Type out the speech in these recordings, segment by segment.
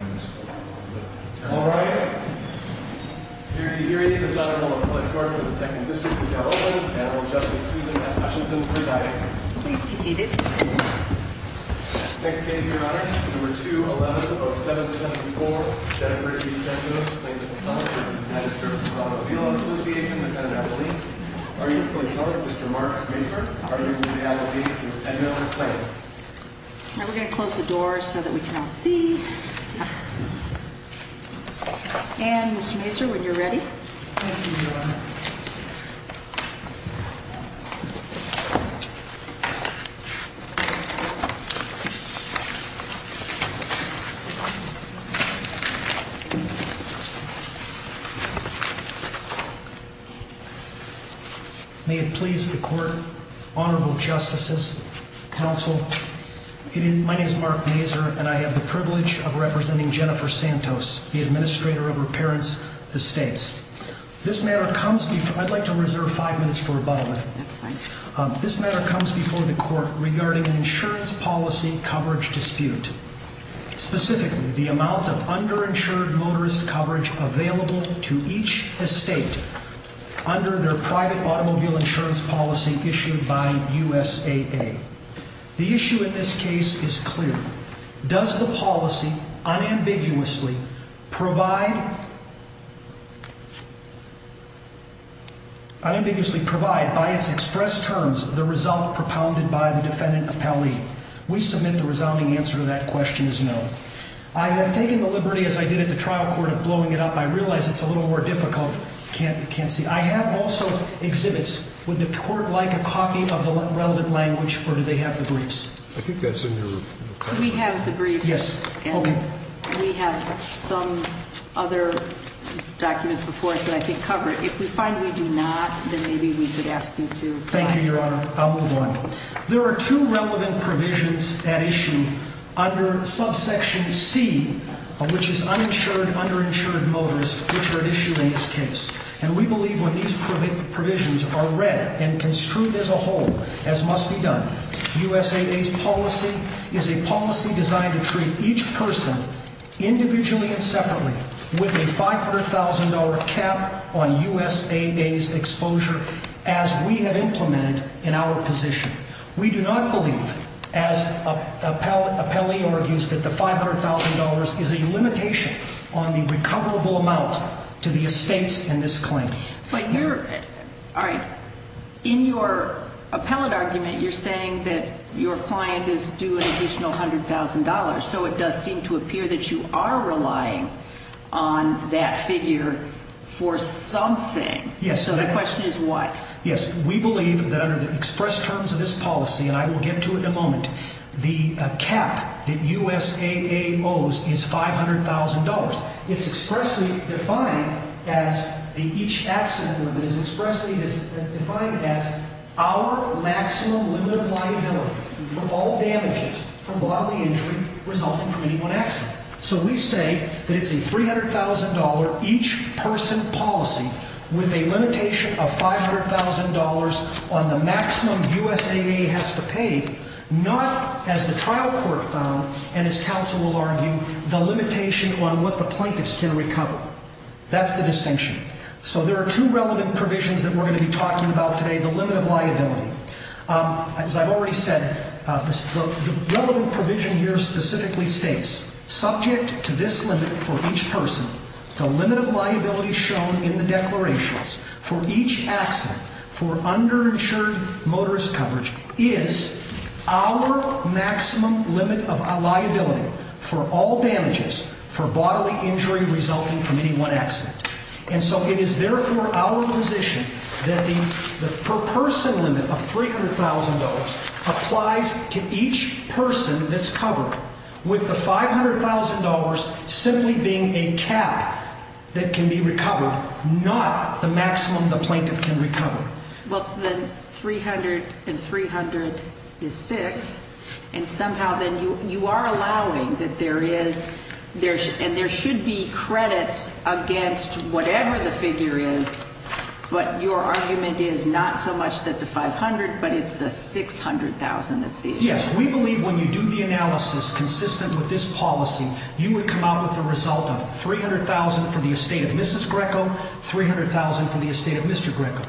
All rise. Hear ye, hear ye. This Honorable Appellate Court for the 2nd District of California, Annual Justice Susan F. Hutchinson presiding. Please be seated. Next case, Your Honor, Number 2110774, Jennifer G. Sandoz, plaintiff-appellant, United Services Automobile Association, defendant-appellee. Are you the plaintiff-appellant, Mr. Mark Raser? Are you the defendant-appellate, Ms. Edna McClain? Now we're going to close the doors so that we can all see. Ann, Mr. Raser, when you're ready. Thank you, Your Honor. May it please the Court, Honorable Justices, Counsel, My name is Mark Raser, and I have the privilege of representing Jennifer Sandoz, the administrator of her parents' estates. This matter comes before... I'd like to reserve five minutes for rebuttal. That's fine. This matter comes before the Court regarding an insurance policy coverage dispute. Specifically, the amount of underinsured motorist coverage available to each estate under their private automobile insurance policy issued by USAA. The issue in this case is clear. Does the policy unambiguously provide... unambiguously provide, by its express terms, the result propounded by the defendant-appellee? We submit the resounding answer to that question is no. I have taken the liberty, as I did at the trial court, of blowing it up. I realize it's a little more difficult. Can't see. I have also exhibits. Would the Court like a copy of the relevant language, or do they have the briefs? I think that's in your... We have the briefs. Yes, okay. And we have some other documents before us that I think cover it. If we find we do not, then maybe we could ask you to... Thank you, Your Honor. I'll move on. There are two relevant provisions at issue under subsection C, which is uninsured underinsured motorist, which are at issue in this case. And we believe when these provisions are read and construed as a whole, as must be done, USAA's policy is a policy designed to treat each person, individually and separately, with a $500,000 cap on USAA's exposure, as we have implemented in our position. We do not believe, as appellee argues, that the $500,000 is a limitation on the recoverable amount to the estates in this claim. But you're... All right. In your appellate argument, you're saying that your client is due an additional $100,000, so it does seem to appear that you are relying on that figure for something. Yes. So the question is what? Yes, we believe that under the express terms of this policy, and I will get to it in a moment, the cap that USAA owes is $500,000. It's expressly defined as... Each accident limit is expressly defined as our maximum limit of liability for all damages from bodily injury resulting from any one accident. So we say that it's a $300,000 each person policy with a limitation of $500,000 on the maximum USAA has to pay, not, as the trial court found, and as counsel will argue, the limitation on what the plaintiffs can recover. That's the distinction. So there are two relevant provisions that we're going to be talking about today, the limit of liability. As I've already said, the relevant provision here specifically states, subject to this limit for each person, the limit of liability shown in the declarations for each accident for underinsured motorist coverage is our maximum limit of liability for all damages for bodily injury resulting from any one accident. And so it is therefore our position that the per-person limit of $300,000 applies to each person that's covered, with the $500,000 simply being a cap that can be recovered, not the maximum the plaintiff can recover. Well, the $300,000 and $300,000 is 6, and somehow then you are allowing that there is, and there should be credit against whatever the figure is, but your argument is not so much that the $500,000, but it's the $600,000 that's the issue. Yes, we believe when you do the analysis consistent with this policy, you would come out with a result of $300,000 for the estate of Mrs. Greco, $300,000 for the estate of Mr. Greco.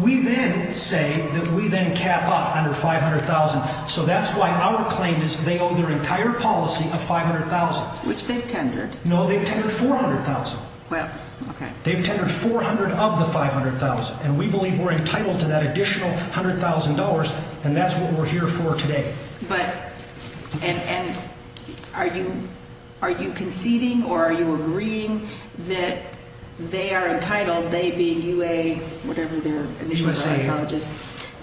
We then say that we then cap up under $500,000, so that's why our claim is they owe their entire policy of $500,000. Which they've tendered. No, they've tendered $400,000. Well, okay. They've tendered $400,000 of the $500,000, and we believe we're entitled to that additional $100,000, and that's what we're here for today. But, and are you conceding or are you agreeing that they are entitled, they being UA, whatever their initials are, colleges,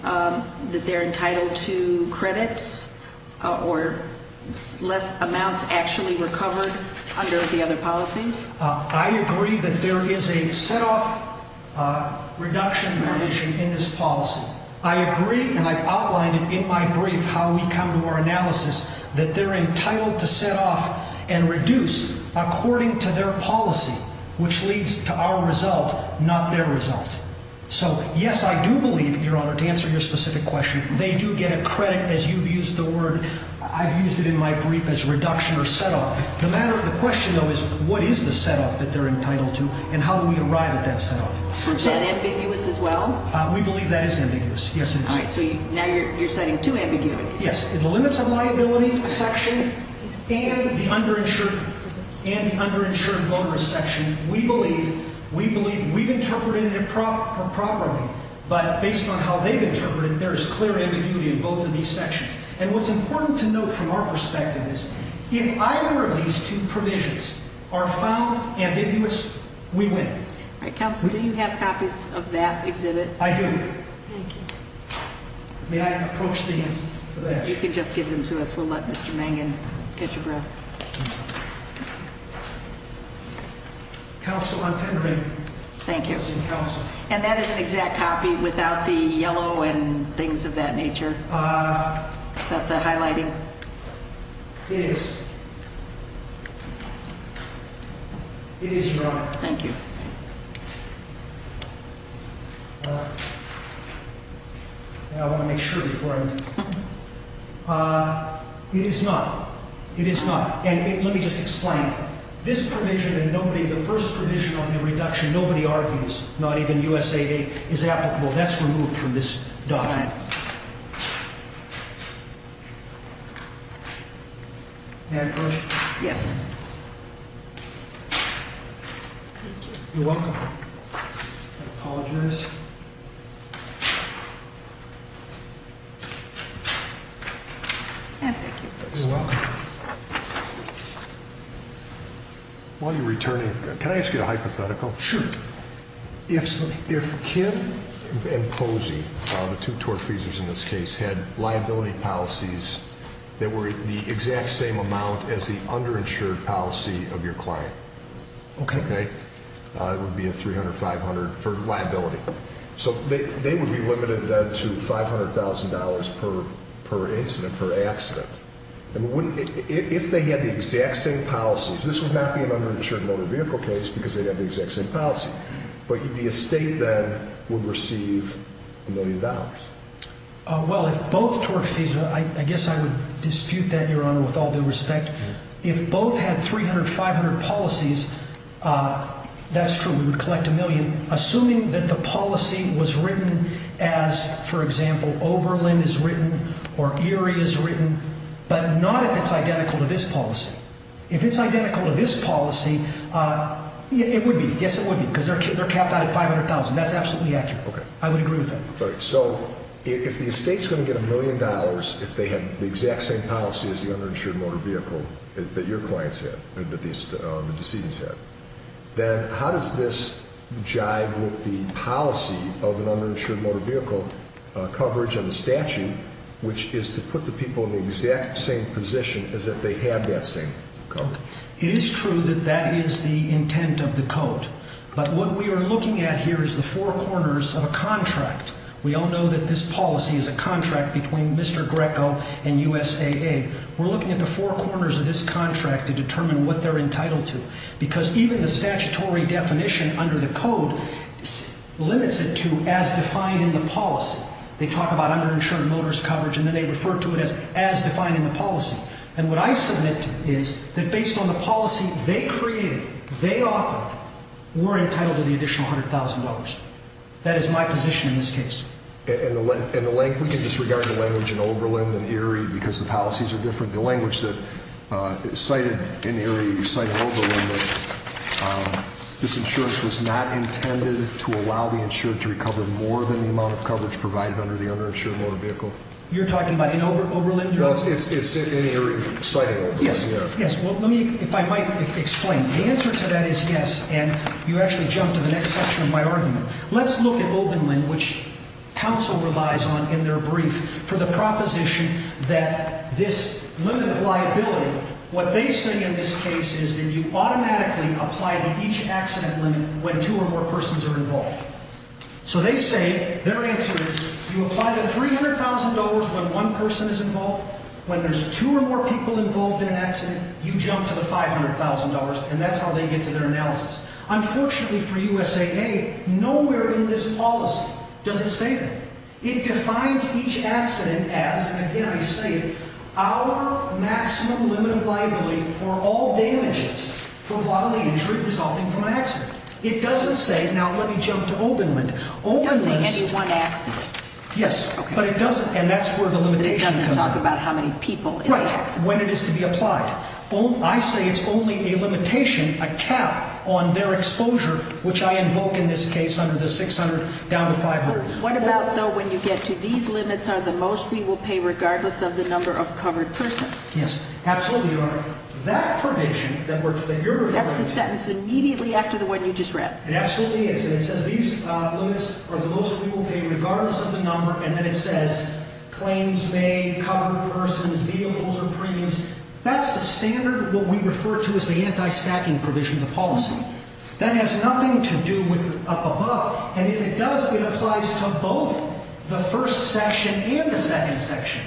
that they're entitled to credits or less amounts actually recovered under the other policies? I agree that there is a set-off reduction in this policy. I agree, and I've outlined it in my brief how we come to our analysis, that they're entitled to set off and reduce according to their policy, which leads to our result, not their result. So, yes, I do believe, Your Honor, to answer your specific question, they do get a credit as you've used the word, I've used it in my brief, as reduction or set-off. The matter of the question, though, is what is the set-off that they're entitled to, and how do we arrive at that set-off? Is that ambiguous as well? We believe that is ambiguous, yes, it is. All right, so now you're citing two ambiguities. Yes. The limits of liability section and the underinsured motorist section, we believe we've interpreted it properly, but based on how they've interpreted it, there is clear ambiguity in both of these sections. And what's important to note from our perspective is if either of these two provisions are found ambiguous, we win. All right, Counselor, do you have copies of that exhibit? I do. Thank you. May I approach these? Yes. You can just give them to us. We'll let Mr. Mangan catch a breath. Counsel, I'm tendering. Thank you. And that is an exact copy without the yellow and things of that nature? Without the highlighting? It is. It is, Your Honor. Thank you. I want to make sure before I move. It is not. It is not. And let me just explain. This provision and the first provision on the reduction, nobody argues, not even USAA, is applicable. That's removed from this document. May I approach? Yes. Thank you. You're welcome. I apologize. Thank you. You're welcome. While you're returning, can I ask you a hypothetical? Sure. If Kim and Posey, the two tort freezers in this case, had liability policies that were the exact same amount as the underinsured policy of your client. Okay. It would be a $300,000, $500,000 for liability. So they would be limited then to $500,000 per incident, per accident. If they had the exact same policies, this would not be an underinsured motor vehicle case because they'd have the exact same policy. But the estate then would receive a million dollars. Well, if both tort fees, I guess I would dispute that, Your Honor, with all due respect. If both had 300, 500 policies, that's true. We would collect a million. Assuming that the policy was written as, for example, Oberlin is written or Erie is written, but not if it's identical to this policy. If it's identical to this policy, it would be. Yes, it would be because they're capped out at $500,000. That's absolutely accurate. I would agree with that. So if the estate's going to get a million dollars if they have the exact same policy as the underinsured motor vehicle that your clients had, that the decedents had, then how does this jive with the policy of an underinsured motor vehicle coverage of the statute, which is to put the people in the exact same position as if they had that same coverage? It is true that that is the intent of the code. But what we are looking at here is the four corners of a contract. We all know that this policy is a contract between Mr. Greco and USAA. We're looking at the four corners of this contract to determine what they're entitled to. Because even the statutory definition under the code limits it to as defined in the policy. They talk about underinsured motorist coverage, and then they refer to it as as defined in the policy. And what I submit is that based on the policy they created, they often were entitled to the additional $100,000. That is my position in this case. And the language, we can disregard the language in Oberlin and Erie because the policies are different. The language that is cited in Erie, you cite in Oberlin that this insurance was not intended to allow the insured to recover more than the amount of coverage provided under the underinsured motor vehicle. You're talking about in Oberlin? No, it's in Erie, citing Oberlin. Yes. Yes. Well, let me, if I might explain. The answer to that is yes. And you actually jumped to the next section of my argument. Let's look at Oberlin, which counsel relies on in their brief for the proposition that this limited liability, what they say in this case is that you automatically apply to each accident limit when two or more persons are involved. So they say their answer is you apply the $300,000 when one person is involved. When there's two or more people involved in an accident, you jump to the $500,000 and that's how they get to their analysis. Unfortunately for USAA, nowhere in this policy doesn't say that. It defines each accident as, and again I say it, our maximum limit of liability for all damages for bodily injury resulting from an accident. It doesn't say, now let me jump to Oberlin. It doesn't say any one accident. Yes, but it doesn't. And that's where the limitation comes in. It doesn't talk about how many people in the accident. Right, when it is to be applied. I say it's only a limitation, a cap on their exposure, which I invoke in this case under the $600,000 down to $500,000. What about though, when you get to these limits are the most we will pay regardless of the number of covered persons? Yes, absolutely, Your Honor. That provision that you're referring to. That's the sentence immediately after the one you just read. It absolutely is. And it says these limits are the most we will pay regardless of the claims made, covered persons, vehicles, or premiums. That's the standard, what we refer to as the anti-stacking provision of the policy. That has nothing to do with up above. And if it does, it applies to both the first section and the second section.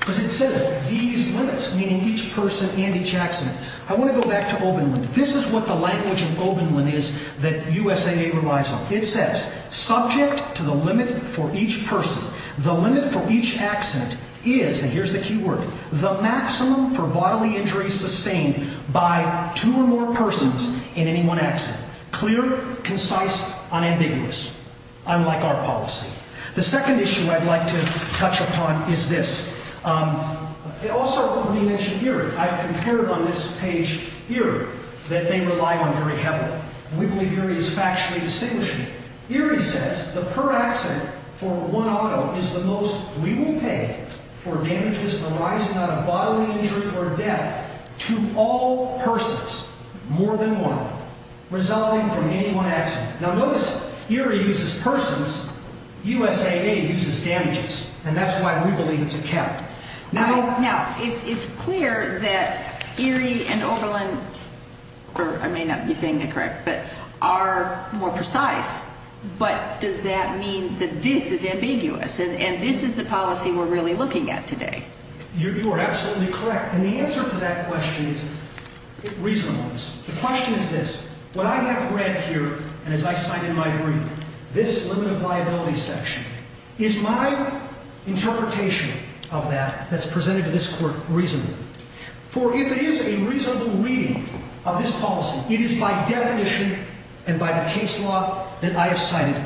Because it says these limits, meaning each person and each accident. I want to go back to Oberlin. This is what the language of Oberlin is that USAA relies on. It says, subject to the limit for each person. The limit for each accident is, and here's the key word, the maximum for bodily injuries sustained by two or more persons in any one accident. Clear, concise, unambiguous. Unlike our policy. The second issue I'd like to touch upon is this. It also, when we mention Erie, I've compared on this page Erie, that they rely on very heavily. We believe Erie is factually distinguishing. Erie says the per accident for one auto is the most we will pay for damages arising out of bodily injury or death to all persons, more than one. Resulting from any one accident. Now notice Erie uses persons, USAA uses damages. And that's why we believe it's a cap. Now, it's clear that Erie and Oberlin, or I may not be saying it correct, but are more precise. But does that mean that this is ambiguous? And this is the policy we're really looking at today. You are absolutely correct. And the answer to that question is reasonableness. The question is this. What I have read here, and as I cite in my brief, this limited liability section, is my interpretation of that, that's presented to this court, reasonable. For if it is a reasonable reading of this policy, it is by definition, and by the case law that I have cited,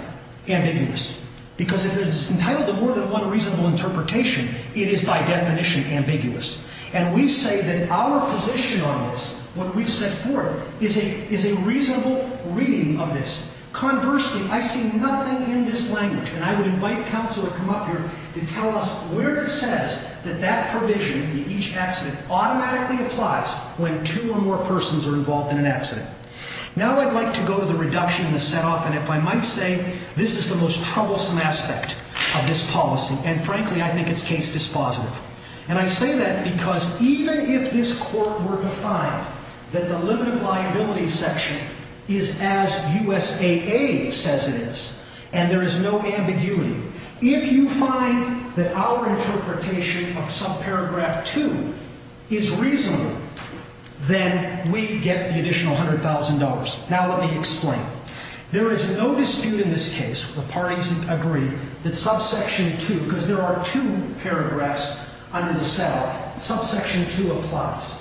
ambiguous. Because if it is entitled to more than one reasonable interpretation, it is by definition ambiguous. And we say that our position on this, what we've set forth, is a reasonable reading of this. Conversely, I see nothing in this language, and I would invite counsel to come up here to tell us where it says that that provision in each accident automatically applies when two or more persons are involved in an accident. Now I'd like to go to the reduction in the set-off, and if I might say, this is the most troublesome aspect of this policy, and frankly, I think it's case dispositive. And I say that because even if this court were to find that the limited liability section is as USAA says it is, and there is no ambiguity, if you find that our interpretation of subparagraph 2 is reasonable, then we get the additional $100,000. Now let me explain. There is no dispute in this case, the parties agree, that subsection 2, because there are two paragraphs under the set-off, subsection 2 applies.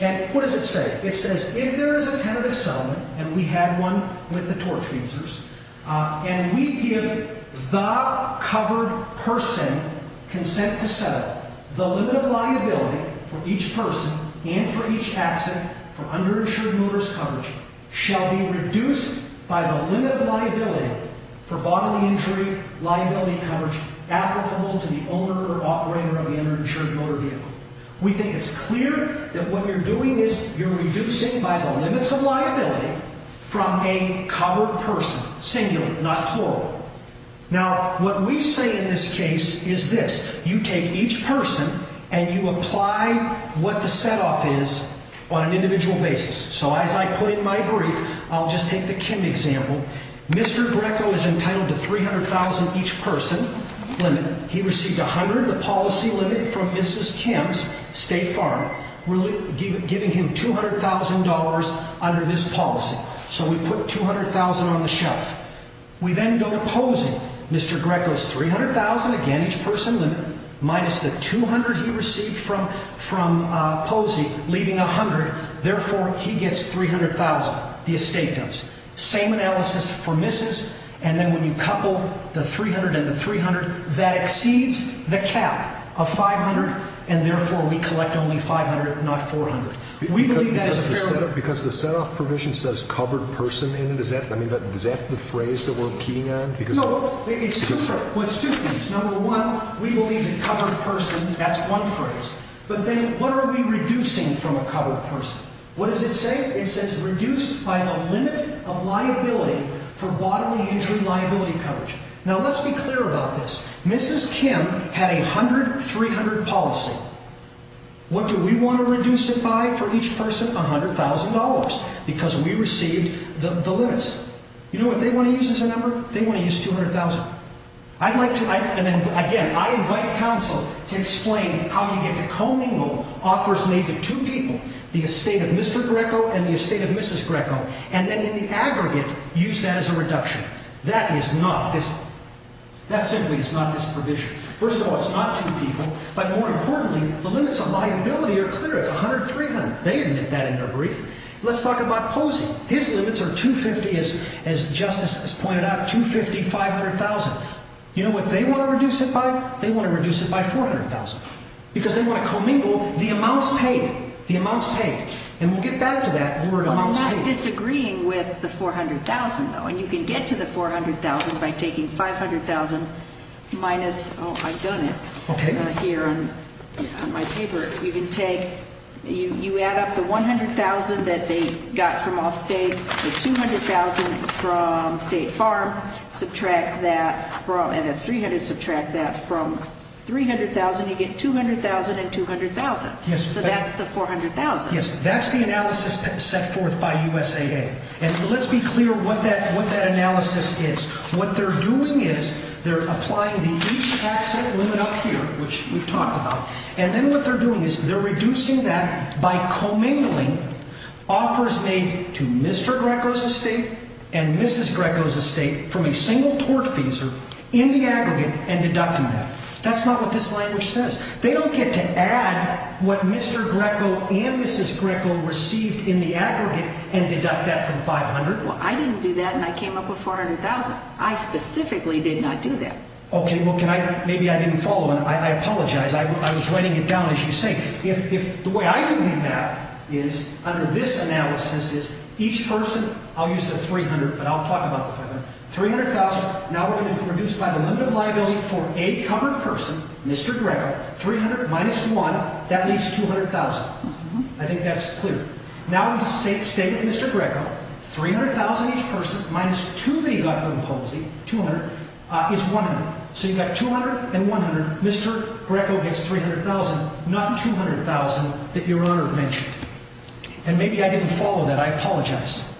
And what does it say? It says, if there is a tentative settlement, and we had one with the torque feezers, and we give the covered person consent to set up the limit of liability for each person and for each accident for underinsured motorist coverage shall be reduced by the limit of liability for bodily injury liability coverage applicable to the owner or operator of the underinsured motor vehicle. We think it's clear that what you're doing is you're reducing by the limits of liability from a covered person, singular, not plural. Now, what we say in this case is this, you take each person and you apply what the set-off is on an individual basis. So as I put in my brief, I'll just take the Kim example, Mr. Greco is entitled to $300,000 each person limit. He received $100,000, the policy limit, from Mrs. Kim's State Farm, giving him $200,000 under this policy. So we put $200,000 on the shelf. We then go to posing, Mr. Greco's $300,000, again, each person limit, minus the $200,000 he received from posing, leaving $100,000. Therefore, he gets $300,000, the estate does. Same analysis for Mrs. and then when you couple the $300,000 and the $300,000, that exceeds the cap of $500,000 and therefore we collect only $500,000, not $400,000. We believe that is a fair limit. Because the set-off provision says covered person in it, is that the phrase that we're keying on? No, it's two things. Number one, we believe in covered person, that's one phrase. But then, what are we reducing from a covered person? What does it say? It says reduced by the limit of liability for bodily injury liability coverage. Now let's be clear about this. Mrs. Kim had a 100-300 policy. What do we want to reduce it by for each person? $100,000. Because we received the limits. You know what they want to use as a number? They want to use $200,000. Again, I invite counsel to explain how you get to commingle offers made to two people. The estate of Mr. Greco and the estate of Mrs. Greco. And then in the aggregate, use that as a reduction. That simply is not this provision. First of all, it's not two people. But more importantly, the limits of liability are clear. It's 100-300. They admit that in their brief. Let's talk about Posey. His limits are $250,000, as Justice has pointed out, $250,000, $500,000. You know what they want to reduce it by? They want to reduce it by $400,000. Because they want to commingle the amounts paid. The amounts paid. And we'll get back to that when we're at amounts paid. I'm not disagreeing with the $400,000 though. And you can get to the $400,000 by taking $500,000 minus Oh, I've done it. Okay. Here on my paper. You can take You add up the $100,000 that they got from Allstate, the $200,000 from State Farm. Subtract that from And that's $300,000. Subtract that from $300,000 and you get $200,000 and $200,000. So that's the $400,000. Yes, that's the analysis set forth by USAA. And let's be clear what that analysis is. What they're doing is they're applying the each tax limit up here, which we've talked about. And then what they're doing is they're reducing that by commingling offers made to Mr. Greco's estate and Mrs. Greco's estate from a single tortfeasor in the aggregate and deducting that. That's not what this language says. They don't get to add what Mr. Greco and Mrs. Greco received in the aggregate and deduct that from $500,000. Well, I didn't do that and I came up with $400,000. I specifically did not do that. Okay, well can I Maybe I didn't follow and I apologize. I was writing it down as you say. The way I do the math is under this analysis is each person I'll use the $300,000 but I'll talk about the $500,000. $300,000 Now we're going to reduce by the limit of liability for a covered person, Mr. Greco. $300,000 minus 1 that leaves $200,000. I think that's clear. Now we state with Mr. Greco $300,000 each person minus 2 that he got for imposing $200,000 So you've got $200,000 and $100,000. Mr. Greco gets $300,000 not the $200,000 that your Honor mentioned. And maybe I didn't follow that. I apologize.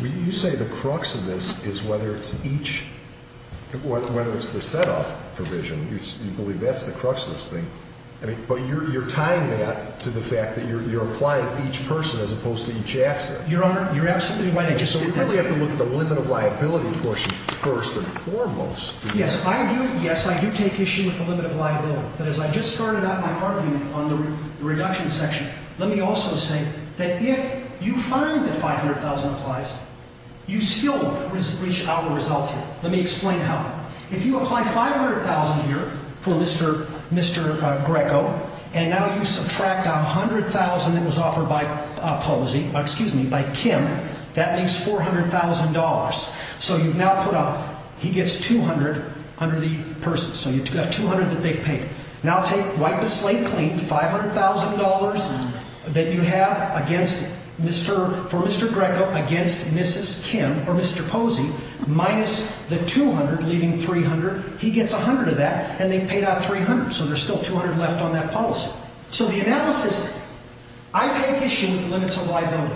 You say the crux of this is whether it's each whether it's the set-off provision. You believe that's the crux of this thing. But you're tying that to the fact that you're applying each person as opposed to each asset. Your Honor, you're absolutely right. So we really have to look at the limit of liability portion first and foremost. Yes, I do. Yes, I do take issue with the limit of liability. But as I just started out my argument on the reduction section let me also say that if you find that $500,000 applies you still reach out a result here. Let me explain how. If you apply $500,000 here for Mr. Greco and now you subtract out $100,000 that was offered by posing, excuse me, by Kim that makes $400,000. So you've now put out he gets $200,000 under the person. So you've got $200,000 that they've paid. Now wipe the slate clean. $500,000 that you have for Mr. Greco against Mrs. Kim or Mr. Posing minus the $200,000 leaving $300,000. He gets $100,000 of that and they've paid out $300,000. So there's still $200,000 left on that policy. So the analysis I take issue with the limits of liability.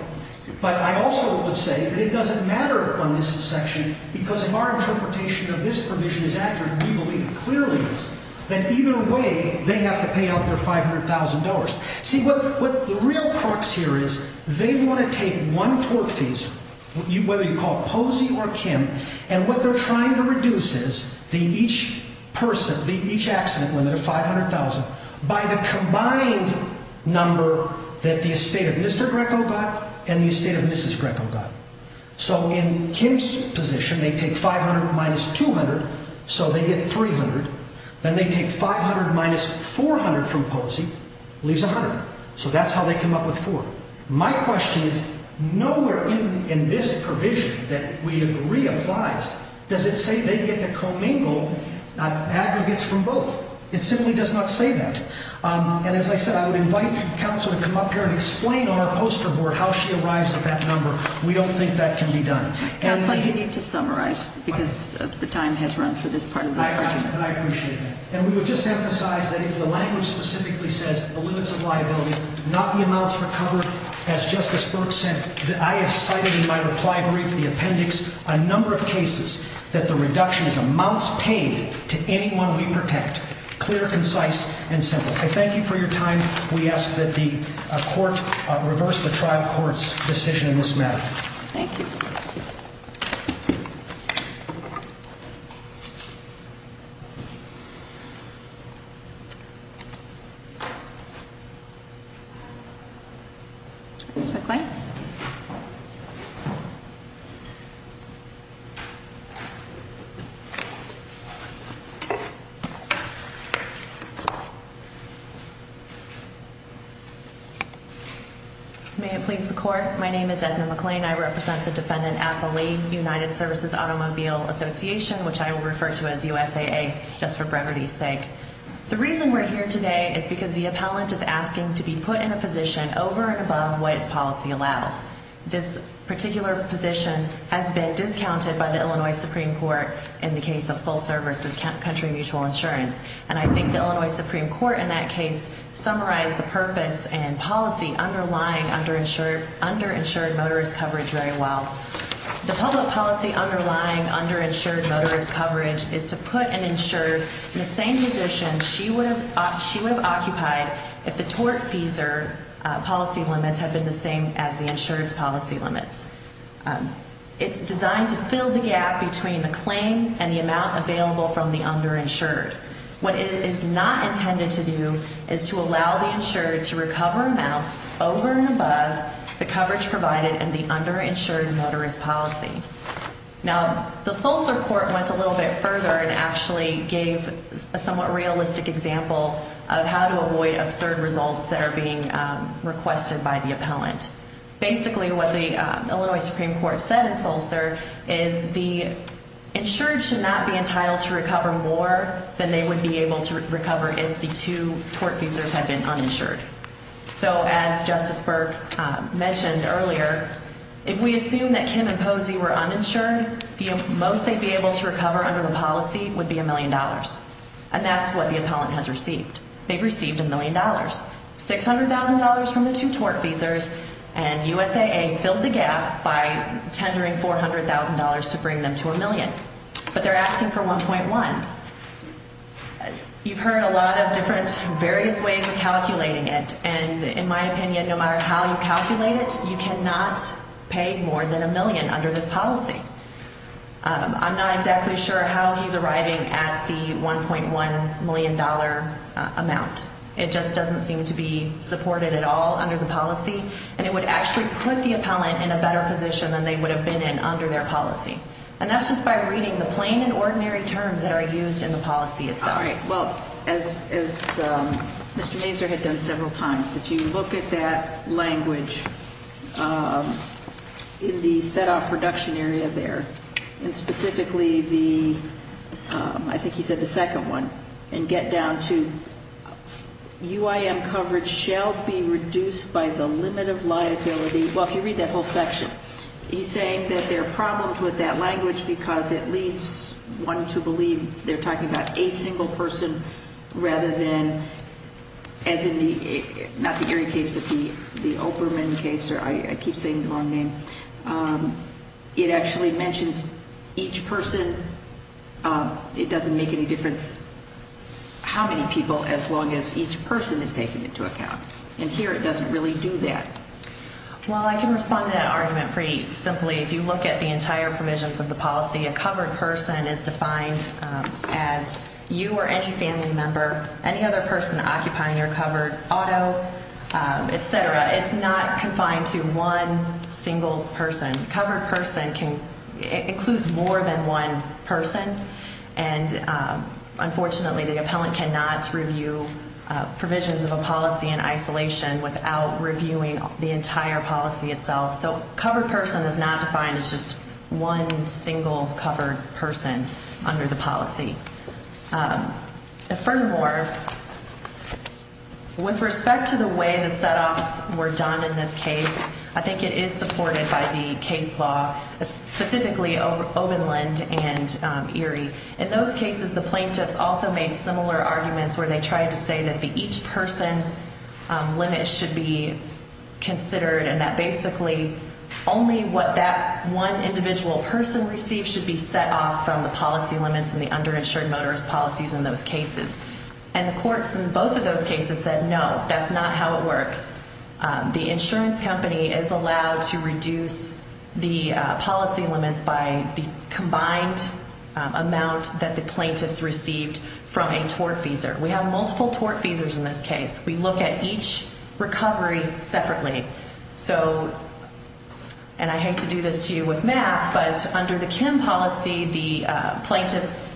But I also would say that it doesn't matter on this section because if our interpretation of this provision is accurate we believe, clearly is that either way they have to pay out their $500,000. See what the real crux here is they want to take one tort fees whether you call Posey or Kim and what they're trying to reduce is the each person the each accident limit of $500,000 by the combined number that the estate of Mr. Greco got and the estate of Mrs. Greco got. So in Kim's position they take $500,000 minus $200,000 so they get $300,000 then they take $500,000 minus $400,000 from Posey leaves $100,000. So that's how they come up with $400,000. My question is nowhere in this provision that we agree applies does it say they get to commingle aggregates from both. It simply does not say that. And as I said I would invite counsel to come up here and explain on our poster board how she arrives at that number. We don't think that can be done. Counsel, you need to summarize because the time has run for this part of the question. And I appreciate that. And we would just emphasize that if the language specifically says the limits of liability not the amounts recovered as Justice Burke said I have cited in my reply brief the appendix a number of cases that the reduction is amounts paid to anyone we protect. Clear, concise, and simple. I thank you for your time. We ask that the court reverse the trial court's decision in this matter. Thank you. Ms. McClain. May it please the court. My name is Edna McClain. I represent the defendant at the League United Services Automobile Association which I will refer to as USAA just for brevity's sake. The reason we're here today is because the appellant is asking to be put in a position over and above what its policy allows. This particular position has been discounted by the Illinois Supreme Court in the case of sole service versus country mutual insurance. And I think the Illinois Supreme Court in that case summarized the purpose and policy underlying underinsured motorist coverage very well. The public policy underlying underinsured motorist coverage is to put an insured in the same position she would have occupied if the tort fees policy limits had been the same as the insurance policy limits. It's designed to fill the gap between the claim and the amount available from the underinsured. What it is not intended to do is to allow the insured to recover amounts over and above the coverage provided in the underinsured motorist policy. Now, the Sulzer Court went a little bit further and actually gave a somewhat realistic example of how to avoid absurd results that are being requested by the appellant. Basically, what the Illinois Supreme Court said in Sulzer is the insured should not be entitled to recover more than they would be able to recover if the two tort fees have been uninsured. So, as Justice Burke mentioned earlier, if we assume that Kim and Posey were uninsured, the most they would be able to recover under the policy would be a million dollars. And that's what the appellant has received. They've received a million dollars. $600,000 from the two tort fees and USAA filled the gap by $600,000. In my opinion, no matter how you calculate it, you cannot pay more than a million under this policy. I'm not exactly sure how he's arriving at the $1.1 million amount. It just doesn't seem to be supported at all under the policy and it would actually put the appellant in a better position than they are right now. If you look at that language in the set-off reduction area there and specifically the second one and get down to UIM coverage shall be reduced by the limit of liability he's saying that there are problems with that language because it leads one to believe that it is a single person rather than as in the case with the case I keep saying the wrong name it actually mentions each person it doesn't make any difference how many people as long as each person is taken into account and here it doesn't really do that. Well I can respond to that argument pretty simply if you look at the entire provisions of the policy a covered person is defined as you or any family member any other person occupying your covered auto etc. It's not confined to one single person. Covered person includes more than one person and unfortunately the appellant cannot review provisions of a policy in isolation without reviewing the entire policy itself. So covered person is not defined as just one single covered person under the policy. Furthermore, with respect to the way the set offs were done in this case I think it is important to note that the case law specifically the plaintiffs also made similar arguments where they tried to say that the each person limit should be considered and that basically only what that one individual person received should be set off from the policy limits and the also tried to reduce the policy limits by the combined amount that the plaintiffs received from a tort feeser. We have multiple tort feesers in this case. We look at each recovery separately. So and I hate to do but the plaintiffs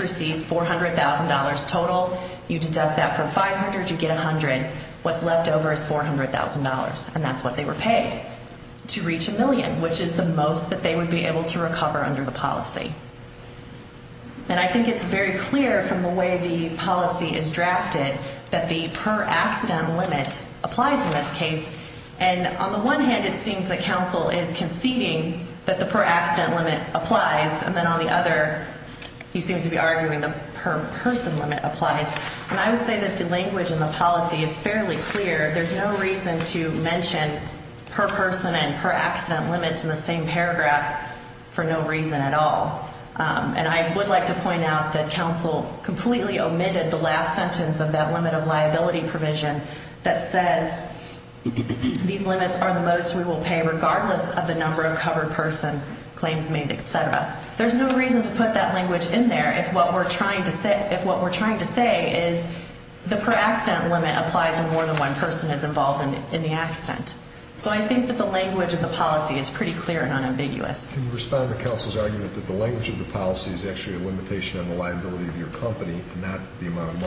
received $400,000 total. You deduct that from $500,000 you get $100,000. What's left over is $400,000 and that's what they were paid to reach a million which is the most that they would be able to recover under the policy. And I would say that the language in the policy is fairly clear. There's no reason to mention per person and per accident limits in the same paragraph for no reason at all. And I would like to point out that counsel completely omitted the last sentence of that limit of liability provision that says these limits are the most we will pay regardless of the number of covered person claims made, et cetera. There's no reason to put that language in there if what we're trying to say is the per accident limit applies when more than one person is involved in the accident. So I think that the language of the policy is pretty clear and unambiguous. Can you respond to counsel's argument that the language of the policy is actually a limitation on the liability of your company and not the amount you have. I don't really disagree with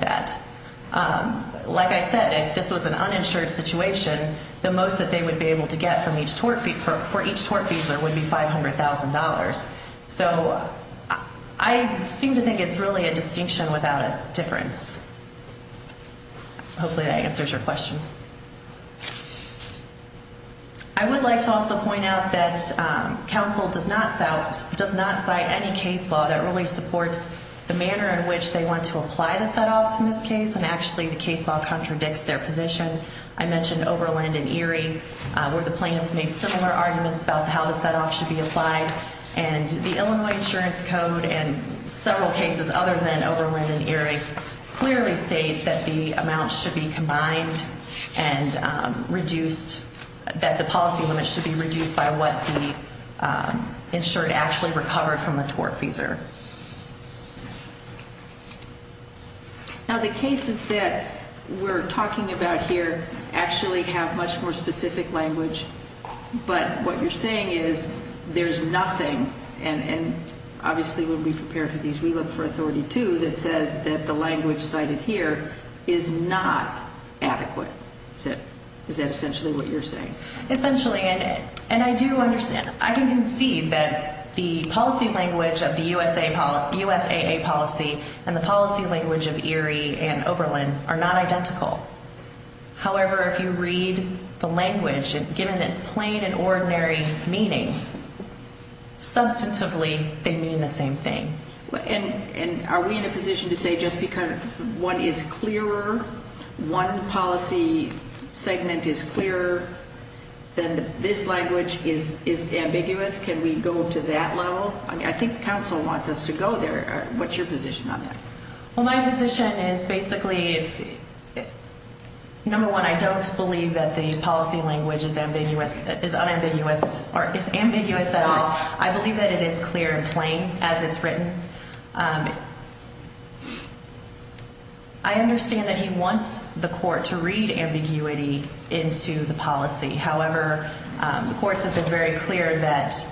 that. Like I said, if this was an uninsured situation, the most they would be able to get would be $500,000. So I seem to think it's really a distinction without a difference. Hopefully that answers your question. I would like to also point out that counsel does not cite any case law that really supports the manner in want to apply the set-offs in this case. And actually the case law contradicts their position. I mentioned Oberland and Erie where the plaintiffs made similar arguments about how the set-off should be applied. And the Illinois insurance code and several cases other than Oberland and Erie clearly state that the amount should be combined and reduced that the policy limit should be reduced by what the insured actually recovered from the case. So would like to point out that the language cited here is not adequate. Is that essentially what you're saying? Essentially and I do understand. I can concede that the policy language of the state is not adequate. And given that it's plain and ordinary meaning, substantively they mean the same thing. And are we in a position to say just because one is clearer, one policy segment is clearer, then this language is ambiguous. I believe that it is clear and plain as it's written. I understand that he wants the court to read ambiguity into the policy. However, the courts have been very clear that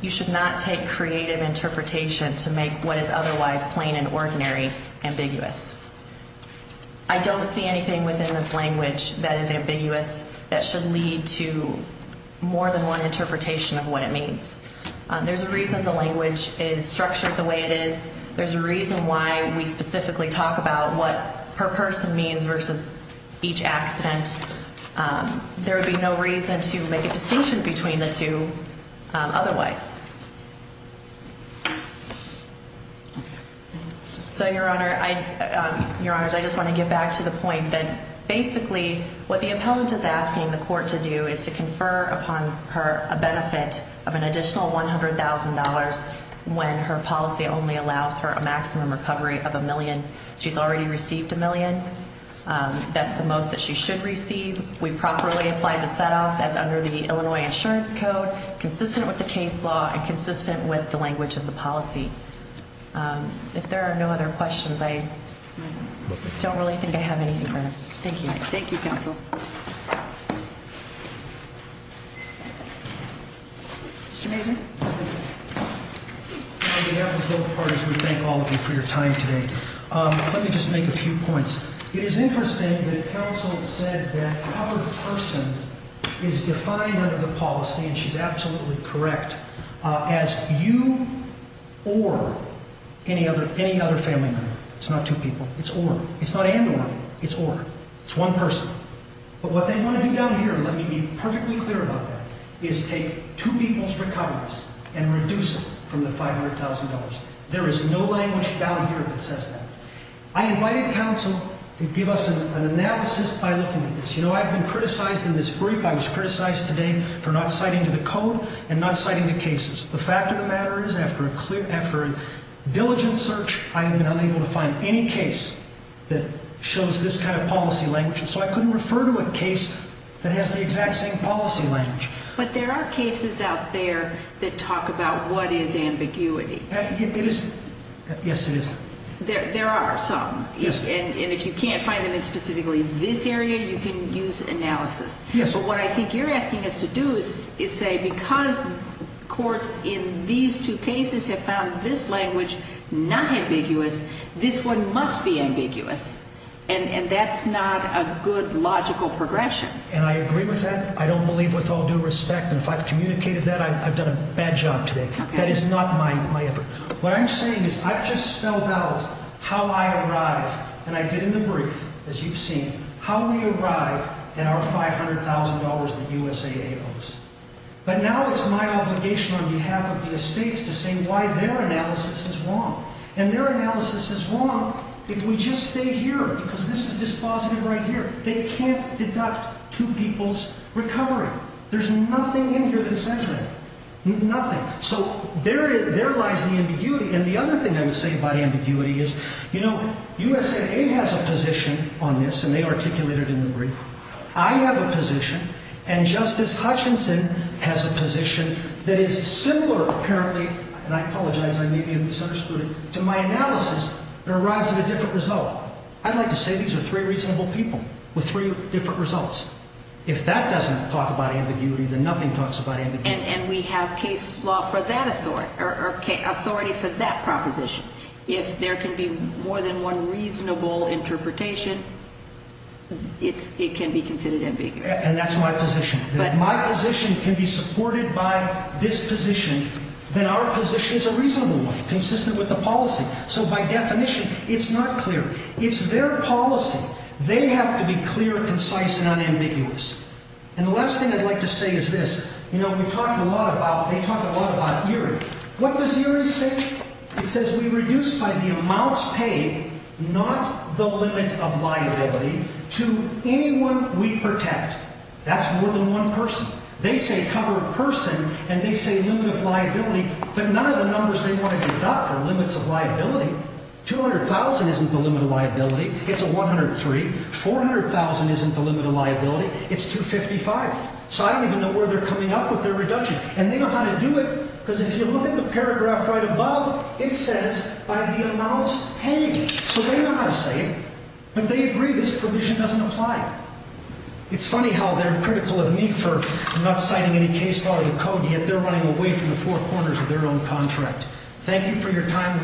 you should not take creative interpretation to make what is otherwise plain and ordinary ambiguous. I don't see anything within this language that is ambiguous that should lead to more than one interpretation of what it means. There's a reason the language is structured the way it is. There's a reason why we specifically talk about what per person means versus each accident. There would be no reason to make a distinction between the two otherwise. So, Your Honor, I just want to get back to the point that basically what the appellant is asking the court to do is to confer upon her a benefit of an additional $100,000 when her policy only allows her maximum recovery of a million. She's already received a million. That's the most that she should receive. We properly applied the set-offs as under the Illinois insurance code, consistent with the case law and consistent with the language of the policy. If there are no other questions, I don't really think I have anything further. Thank you. Thank you, counsel. Mr. Mazur? On behalf of both parties, we thank all of you for your time today. Let me just make a few points. It is interesting that counsel said that our person is defined under the code. It's not two people. It's one person. What they want to do down here is take two people's recoveries and reduce them from the $500,000. There is no language down here that says that. I invited counsel to give us an analysis by looking at this. I was criticized today for not citing the code and not citing the cases. The fact of the matter is after a diligent search I have been unable to find any case that shows this kind of policy language. So I couldn't refer to a case that has the exact same policy language. But there are cases out there that talk about what is ambiguity. There are some. If you can't find them in specifically this area you can use analysis. What I think you're asking us to do is say because courts in these two cases have found this language not ambiguous this one must be ambiguous. And that's not a good logical progression. And I agree with that. I don't believe with all due respect and if I've communicated that I've done a bad job today. That is not my effort. What I'm saying is I've just spelled out how I arrived and I did in the brief as you've seen how we arrived at our $500,000 that USAA owes. But now it's my obligation on behalf of the estates to say why their analysis is wrong. And their analysis is wrong if we just stay here because this is dispositive right here. They can't deduct two people's recovery. There's nothing in their wrong. I have a position on this and they articulated it in the brief. I have a position and Justice Hutchinson has a position that is similar apparently to my analysis that arrives at a different result. I'd like to say these are three reasonable people with three different positions. If my position can be supported by this position then our position is a reasonable one consistent with the policy. So by definition it's not clear. It's their policy. They have to be clear, concise and unambiguous. And the last thing I'd like to say is this. You know we talked a lot about ERA. What does ERA say? It says we reduce by the amounts paid not the limit of liability to anyone we protect. That's more than one person. They say cover a person and they say limit of liability but none of the numbers they want to deduct are limits of liability. $200,000 isn't the limit of liability. So ERA says if you look at the paragraph right above it says by the amounts paid. So they know how to say it but they agree this provision doesn't apply. It's funny how they're critical of me for not citing any case law or code yet they're running away from the four corners of their own contract. Thank you for your time.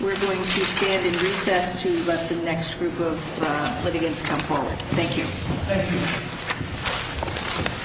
We're going to stand in recess to let the next group of litigants come forward. Thank you.